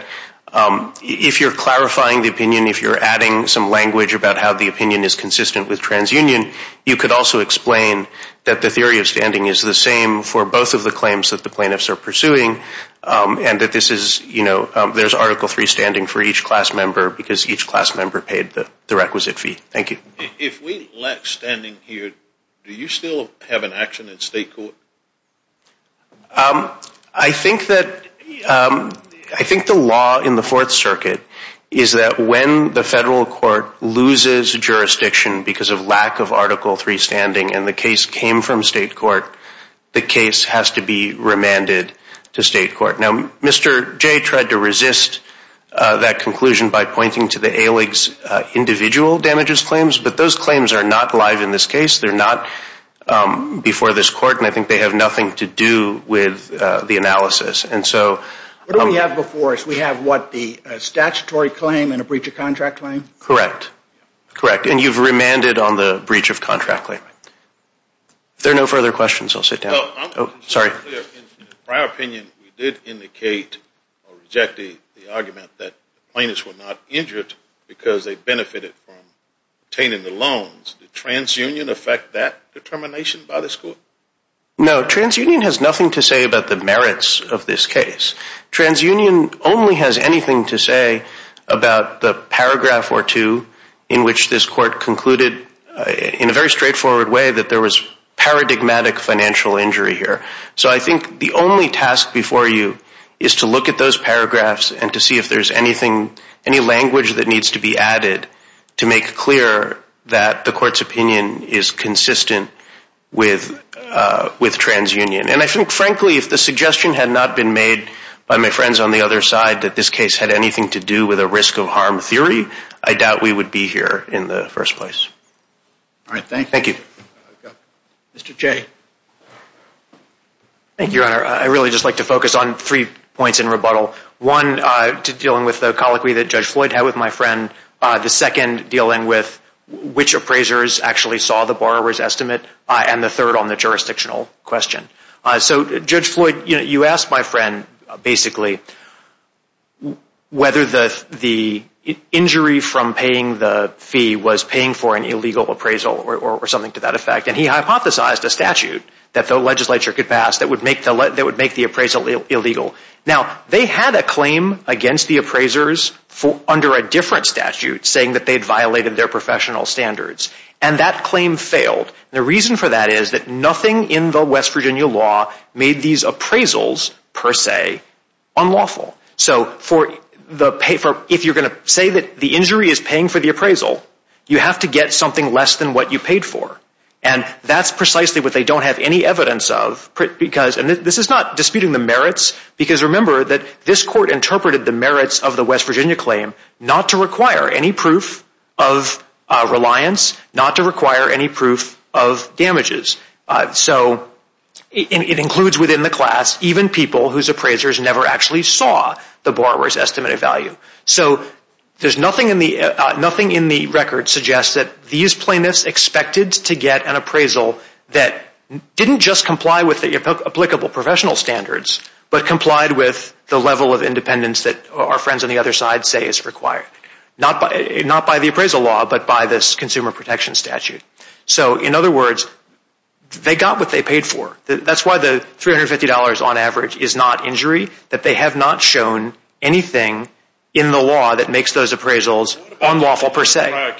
if you're clarifying the opinion, if you're adding some language about how the opinion is consistent with transunion, you could also explain that the theory of standing is the same for both of the claims that the plaintiffs are pursuing and that there's Article III standing for each class member because each class member paid the requisite fee. Thank you. If we lack standing here, do you still have an action in state court? I think the law in the Fourth Circuit is that when the federal court loses jurisdiction because of lack of Article III standing and the case came from state court, the case has to be remanded to state court. Now, Mr. Jay tried to resist that conclusion by pointing to the ALIG's individual damages claims, but those claims are not live in this case. They're not before this court, and I think they have nothing to do with the analysis. What do we have before us? We have what, the statutory claim and a breach of contract claim? Correct. Correct, and you've remanded on the breach of contract claim. If there are no further questions, I'll sit down. Oh, sorry. In the prior opinion, you did indicate or reject the argument that the plaintiffs were not injured because they benefited from obtaining the loans. Did transunion affect that determination by this court? No, transunion has nothing to say about the merits of this case. Transunion only has anything to say about the paragraph or two in which this court concluded in a very straightforward way that there was paradigmatic financial injury here. So I think the only task before you is to look at those paragraphs and to see if there's anything, any language that needs to be added to make clear that the court's opinion is consistent with transunion. And I think, frankly, if the suggestion had not been made by my friends on the other side that this case had anything to do with a risk of harm theory, I doubt we would be here in the first place. All right, thank you. Thank you. Mr. Jay. Thank you, Your Honor. I'd really just like to focus on three points in rebuttal. One, dealing with the colloquy that Judge Floyd had with my friend. The second, dealing with which appraisers actually saw the borrower's estimate. And the third on the jurisdictional question. So, Judge Floyd, you asked my friend, basically, whether the injury from paying the fee was paying for an illegal appraisal or something to that effect. And he hypothesized a statute that the legislature could pass that would make the appraisal illegal. Now, they had a claim against the appraisers under a different statute saying that they'd violated their professional standards. And that claim failed. The reason for that is that nothing in the West Virginia law made these appraisals, per se, unlawful. So, if you're going to say that the injury is paying for the appraisal, you have to get something less than what you paid for. And that's precisely what they don't have any evidence of, because this is not disputing the merits, because remember that this court interpreted the merits of the West Virginia claim not to require any proof of reliance, not to require any proof of damages. So, it includes within the class even people whose appraisers never actually saw the borrower's estimated value. So, nothing in the record suggests that these plaintiffs expected to get an appraisal that didn't just comply with the applicable professional standards, but complied with the level of independence that our friends on the other side say is required. Not by the appraisal law, but by this consumer protection statute. So, in other words, they got what they paid for. That's why the $350 on average is not injury, that they have not shown anything in the law that makes those appraisals unlawful, per se.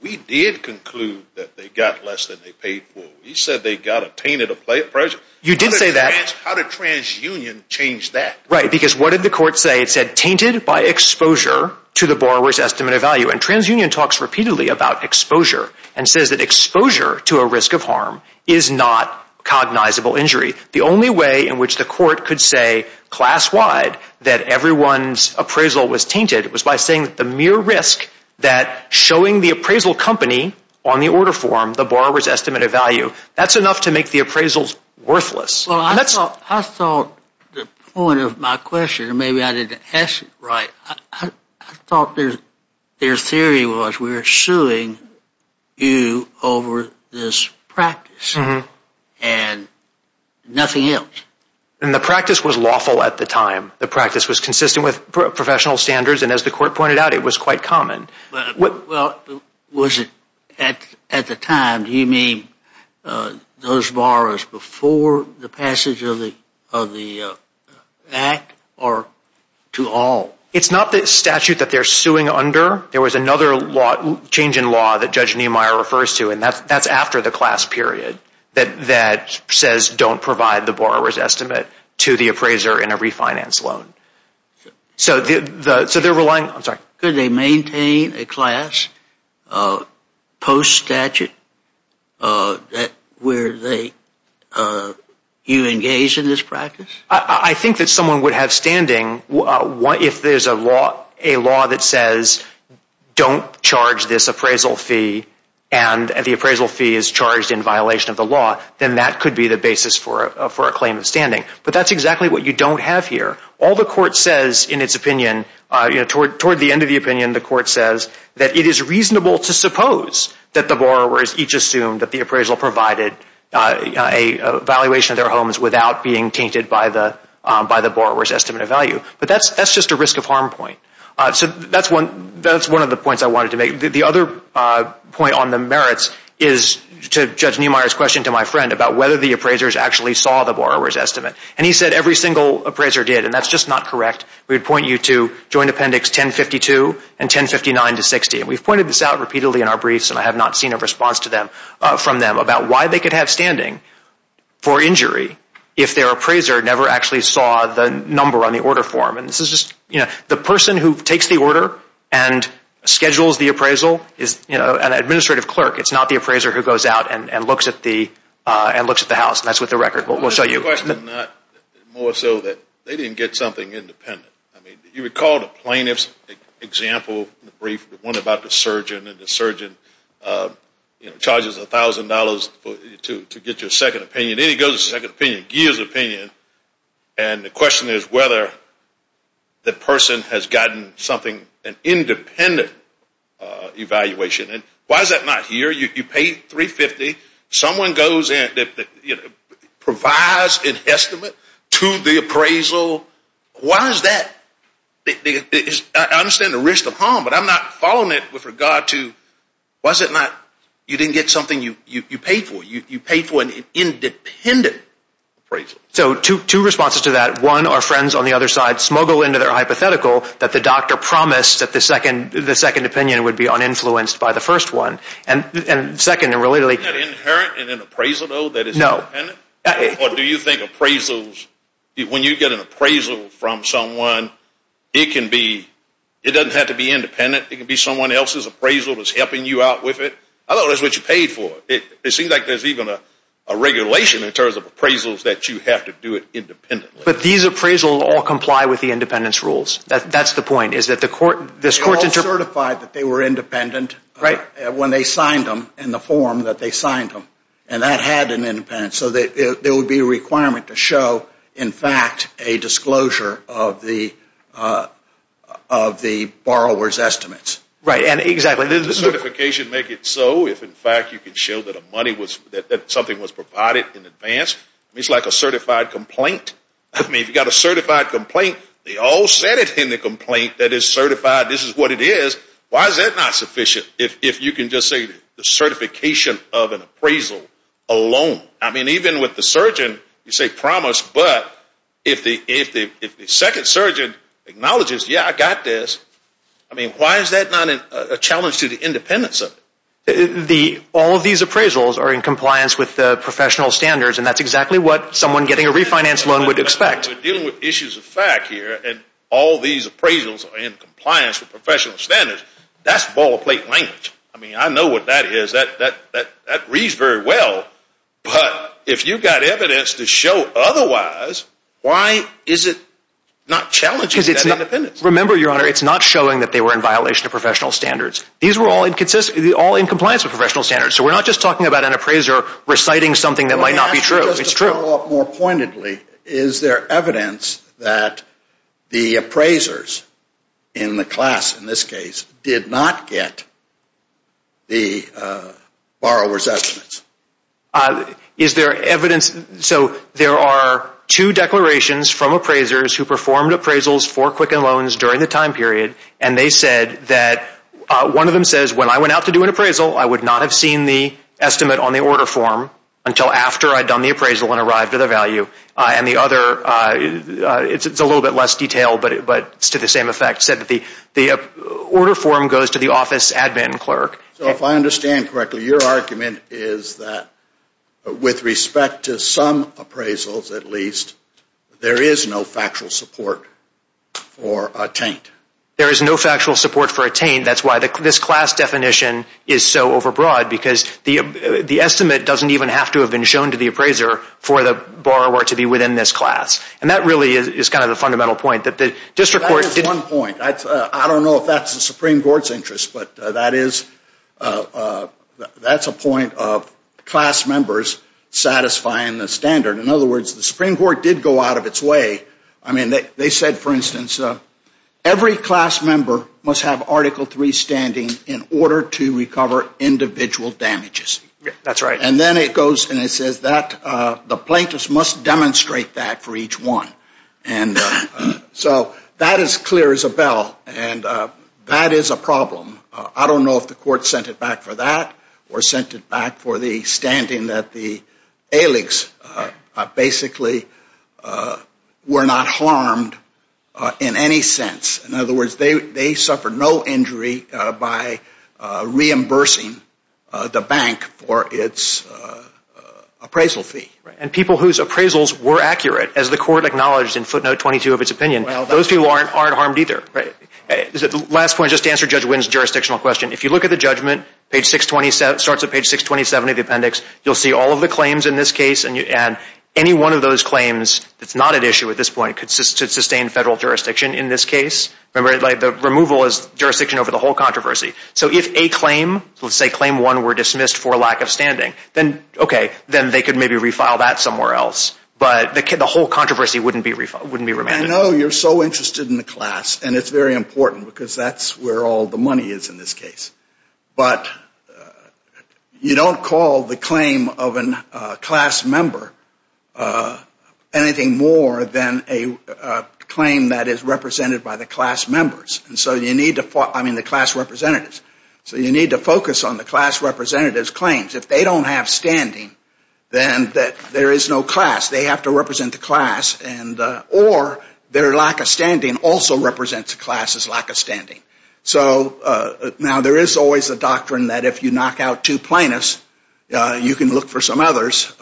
We did conclude that they got less than they paid for. You said they got a tainted appraisal. You did say that. How did TransUnion change that? Right, because what did the court say? It said tainted by exposure to the borrower's estimated value. And TransUnion talks repeatedly about exposure and says that exposure to a risk of harm is not cognizable injury. The only way in which the court could say class-wide that everyone's appraisal was tainted was by saying that the mere risk that showing the appraisal company on the order form the borrower's estimated value, that's enough to make the appraisals worthless. Well, I thought the point of my question, and maybe I didn't ask it right, I thought their theory was we're suing you over this practice and nothing else. And the practice was lawful at the time. The practice was consistent with professional standards, and as the court pointed out, it was quite common. Well, was it at the time? Do you mean those borrowers before the passage of the Act or to all? It's not the statute that they're suing under. There was another change in law that Judge Niemeyer refers to, and that's after the class period that says don't provide the borrower's estimate to the appraiser in a refinance loan. Could they maintain a class post-statute where you engage in this practice? I think that someone would have standing if there's a law that says don't charge this appraisal fee and the appraisal fee is charged in violation of the law, then that could be the basis for a claim of standing. But that's exactly what you don't have here. All the court says in its opinion, toward the end of the opinion, the court says that it is reasonable to suppose that the borrowers each assumed that the appraisal provided a valuation of their homes without being tainted by the borrower's estimate of value. But that's just a risk of harm point. So that's one of the points I wanted to make. The other point on the merits is to Judge Niemeyer's question to my friend about whether the appraisers actually saw the borrower's estimate. He said every single appraiser did, and that's just not correct. We would point you to Joint Appendix 1052 and 1059-60. We've pointed this out repeatedly in our briefs, and I have not seen a response from them, about why they could have standing for injury if their appraiser never actually saw the number on the order form. The person who takes the order and schedules the appraisal is an administrative clerk. It's not the appraiser who goes out and looks at the house, and that's with the record. We'll show you. The question is not more so that they didn't get something independent. You recall the plaintiff's example in the brief, the one about the surgeon, and the surgeon charges $1,000 to get your second opinion. Then he goes to the second opinion, Geer's opinion, and the question is whether the person has gotten something, an independent evaluation. Why is that not here? You paid $350. Someone provides an estimate to the appraisal. Why is that? I understand the risk of harm, but I'm not following it with regard to, why is it not you didn't get something you paid for? You paid for an independent appraisal. So two responses to that. One, our friends on the other side smuggle into their hypothetical that the doctor promised that the second opinion would be uninfluenced by the first one. And second, really. Isn't that inherent in an appraisal, though, that it's independent? No. Or do you think appraisals, when you get an appraisal from someone, it can be, it doesn't have to be independent. It can be someone else's appraisal that's helping you out with it. I thought that's what you paid for. It seems like there's even a regulation in terms of appraisals that you have to do it independently. But these appraisals all comply with the independence rules. That's the point. They all certified that they were independent when they signed them in the form that they signed them. And that had an independence. So there would be a requirement to show, in fact, a disclosure of the borrower's estimates. Right. And exactly. Doesn't certification make it so if, in fact, you can show that something was provided in advance? It's like a certified complaint. I mean, if you've got a certified complaint, they all said it in the complaint that it's certified. This is what it is. Why is that not sufficient if you can just say the certification of an appraisal alone? I mean, even with the surgeon, you say promise, but if the second surgeon acknowledges, yeah, I got this, I mean, why is that not a challenge to the independence of it? All of these appraisals are in compliance with the professional standards, and that's exactly what someone getting a refinance loan would expect. We're dealing with issues of fact here, and all these appraisals are in compliance with professional standards. That's ball-of-plate language. I mean, I know what that is. That reads very well. But if you've got evidence to show otherwise, why is it not challenging that independence? Remember, Your Honor, it's not showing that they were in violation of professional standards. These were all in compliance with professional standards. So we're not just talking about an appraiser reciting something that might not be true. It's true. More pointedly, is there evidence that the appraisers in the class in this case did not get the borrower's estimates? Is there evidence? So there are two declarations from appraisers who performed appraisals for Quicken Loans during the time period, and they said that one of them says, when I went out to do an appraisal, I would not have seen the estimate on the order form until after I'd done the appraisal and arrived at the value. And the other, it's a little bit less detailed, but it's to the same effect, said that the order form goes to the office admin clerk. So if I understand correctly, your argument is that with respect to some appraisals at least, there is no factual support for a taint. There is no factual support for a taint. That's why this class definition is so overbroad, because the estimate doesn't even have to have been shown to the appraiser for the borrower to be within this class. And that really is kind of the fundamental point. That is one point. I don't know if that's the Supreme Court's interest, but that's a point of class members satisfying the standard. In other words, the Supreme Court did go out of its way. I mean, they said, for instance, every class member must have Article III standing in order to recover individual damages. That's right. And then it goes and it says that the plaintiffs must demonstrate that for each one. And so that is clear as a bell, and that is a problem. I don't know if the court sent it back for that or sent it back for the standing that the AILGS basically were not harmed in any sense. In other words, they suffered no injury by reimbursing the bank for its appraisal fee. And people whose appraisals were accurate, as the court acknowledged in footnote 22 of its opinion, those people aren't harmed either. The last point, just to answer Judge Wynn's jurisdictional question, if you look at the judgment, starts at page 627 of the appendix, you'll see all of the claims in this case. And any one of those claims that's not at issue at this point could sustain federal jurisdiction in this case. Remember, the removal is jurisdiction over the whole controversy. So if a claim, let's say claim one, were dismissed for lack of standing, then okay, then they could maybe refile that somewhere else. But the whole controversy wouldn't be remanded. I know you're so interested in the class, and it's very important because that's where all the money is in this case. But you don't call the claim of a class member anything more than a claim that is represented by the class members, I mean the class representatives. So you need to focus on the class representative's claims. If they don't have standing, then there is no class. They have to represent the class. Or their lack of standing also represents the class's lack of standing. So now there is always a doctrine that if you knock out two plaintiffs, you can look for some others.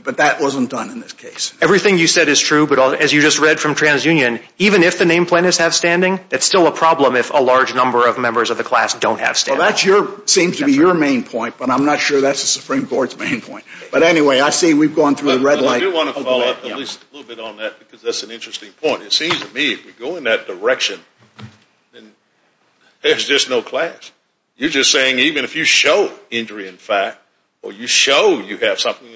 But that wasn't done in this case. Everything you said is true, but as you just read from TransUnion, even if the named plaintiffs have standing, it's still a problem if a large number of members of the class don't have standing. Well, that seems to be your main point, but I'm not sure that's the Supreme Court's main point. But anyway, I see we've gone through the red light. I do want to follow up a little bit on that because that's an interesting point. It seems to me if we go in that direction, then there's just no class. You're just saying even if you show injury in fact, or you show you have something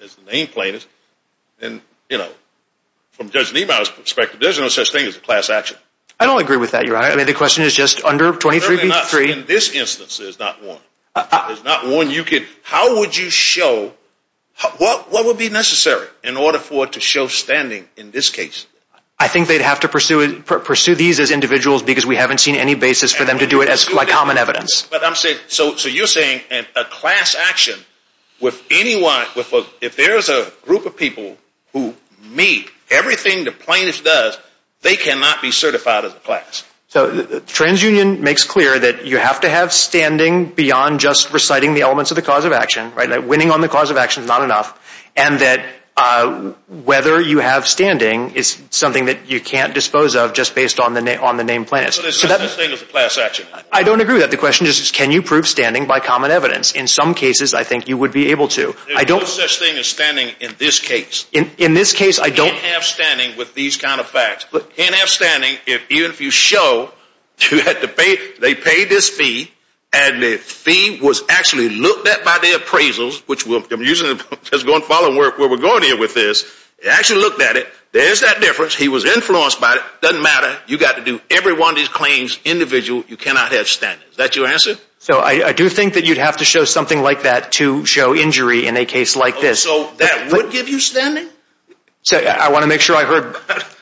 as the named plaintiff, then from Judge Niemeyer's perspective, there's no such thing as a class action. I don't agree with that, Your Honor. I mean the question is just under 23 v. 3. In this instance, there's not one. How would you show what would be necessary in order for it to show standing in this case? I think they'd have to pursue these as individuals because we haven't seen any basis for them to do it as common evidence. So you're saying a class action, if there's a group of people who meet everything the plaintiff does, they cannot be certified as a class. So TransUnion makes clear that you have to have standing beyond just reciting the elements of the cause of action. Winning on the cause of action is not enough. And that whether you have standing is something that you can't dispose of just based on the named plaintiff. So there's no such thing as a class action. I don't agree with that. The question is can you prove standing by common evidence? In some cases, I think you would be able to. There's no such thing as standing in this case. In this case, I don't… You can't have standing with these kind of facts. You can't have standing even if you show they paid this fee and the fee was actually looked at by the appraisals, which I'm going to follow where we're going here with this. They actually looked at it. There's that difference. He was influenced by it. It doesn't matter. You've got to do every one of these claims individually. You cannot have standing. Is that your answer? So I do think that you'd have to show something like that to show injury in a case like this. So that would give you standing? I want to make sure I heard…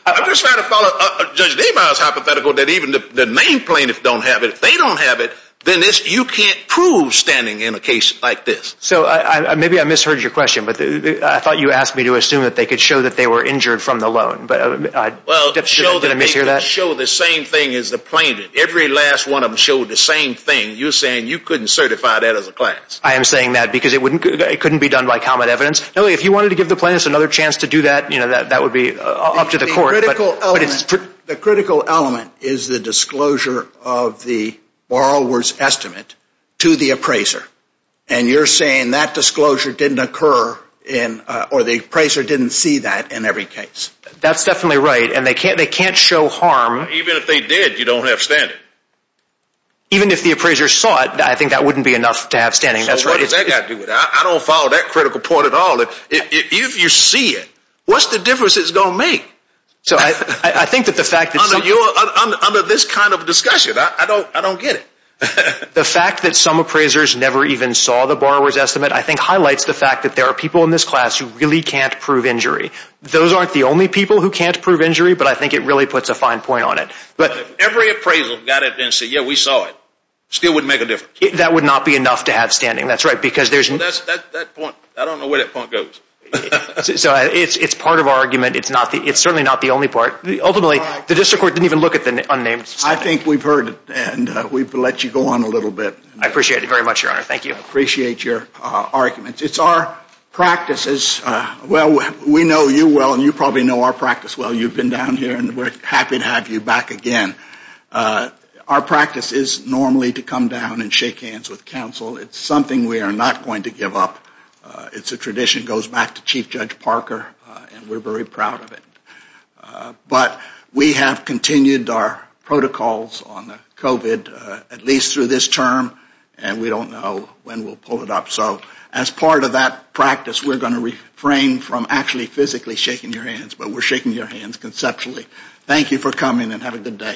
I'm just trying to follow Judge Deboer's hypothetical that even the main plaintiffs don't have it. If they don't have it, then you can't prove standing in a case like this. So maybe I misheard your question, but I thought you asked me to assume that they could show that they were injured from the loan. Well, show that they could show the same thing as the plaintiff. Every last one of them showed the same thing. You're saying you couldn't certify that as a class. I am saying that because it couldn't be done by common evidence. If you wanted to give the plaintiffs another chance to do that, that would be up to the court. The critical element is the disclosure of the borrower's estimate to the appraiser. And you're saying that disclosure didn't occur or the appraiser didn't see that in every case. That's definitely right, and they can't show harm. Even if they did, you don't have standing. Even if the appraiser saw it, I think that wouldn't be enough to have standing. I don't follow that critical point at all. If you see it, what's the difference it's going to make? Under this kind of discussion, I don't get it. The fact that some appraisers never even saw the borrower's estimate I think highlights the fact that there are people in this class who really can't prove injury. Those aren't the only people who can't prove injury, but I think it really puts a fine point on it. But if every appraisal got it and said, yeah, we saw it, it still wouldn't make a difference. That would not be enough to have standing. That's right. That point, I don't know where that point goes. It's part of our argument. It's certainly not the only part. Ultimately, the district court didn't even look at the unnamed standing. I think we've heard it, and we've let you go on a little bit. I appreciate it very much, Your Honor. Thank you. I appreciate your argument. It's our practices. Well, we know you well, and you probably know our practice well. You've been down here, and we're happy to have you back again. Our practice is normally to come down and shake hands with counsel. It's something we are not going to give up. It's a tradition that goes back to Chief Judge Parker, and we're very proud of it. But we have continued our protocols on COVID at least through this term, and we don't know when we'll pull it up. So as part of that practice, we're going to refrain from actually physically shaking your hands, but we're shaking your hands conceptually. Thank you for coming, and have a good day.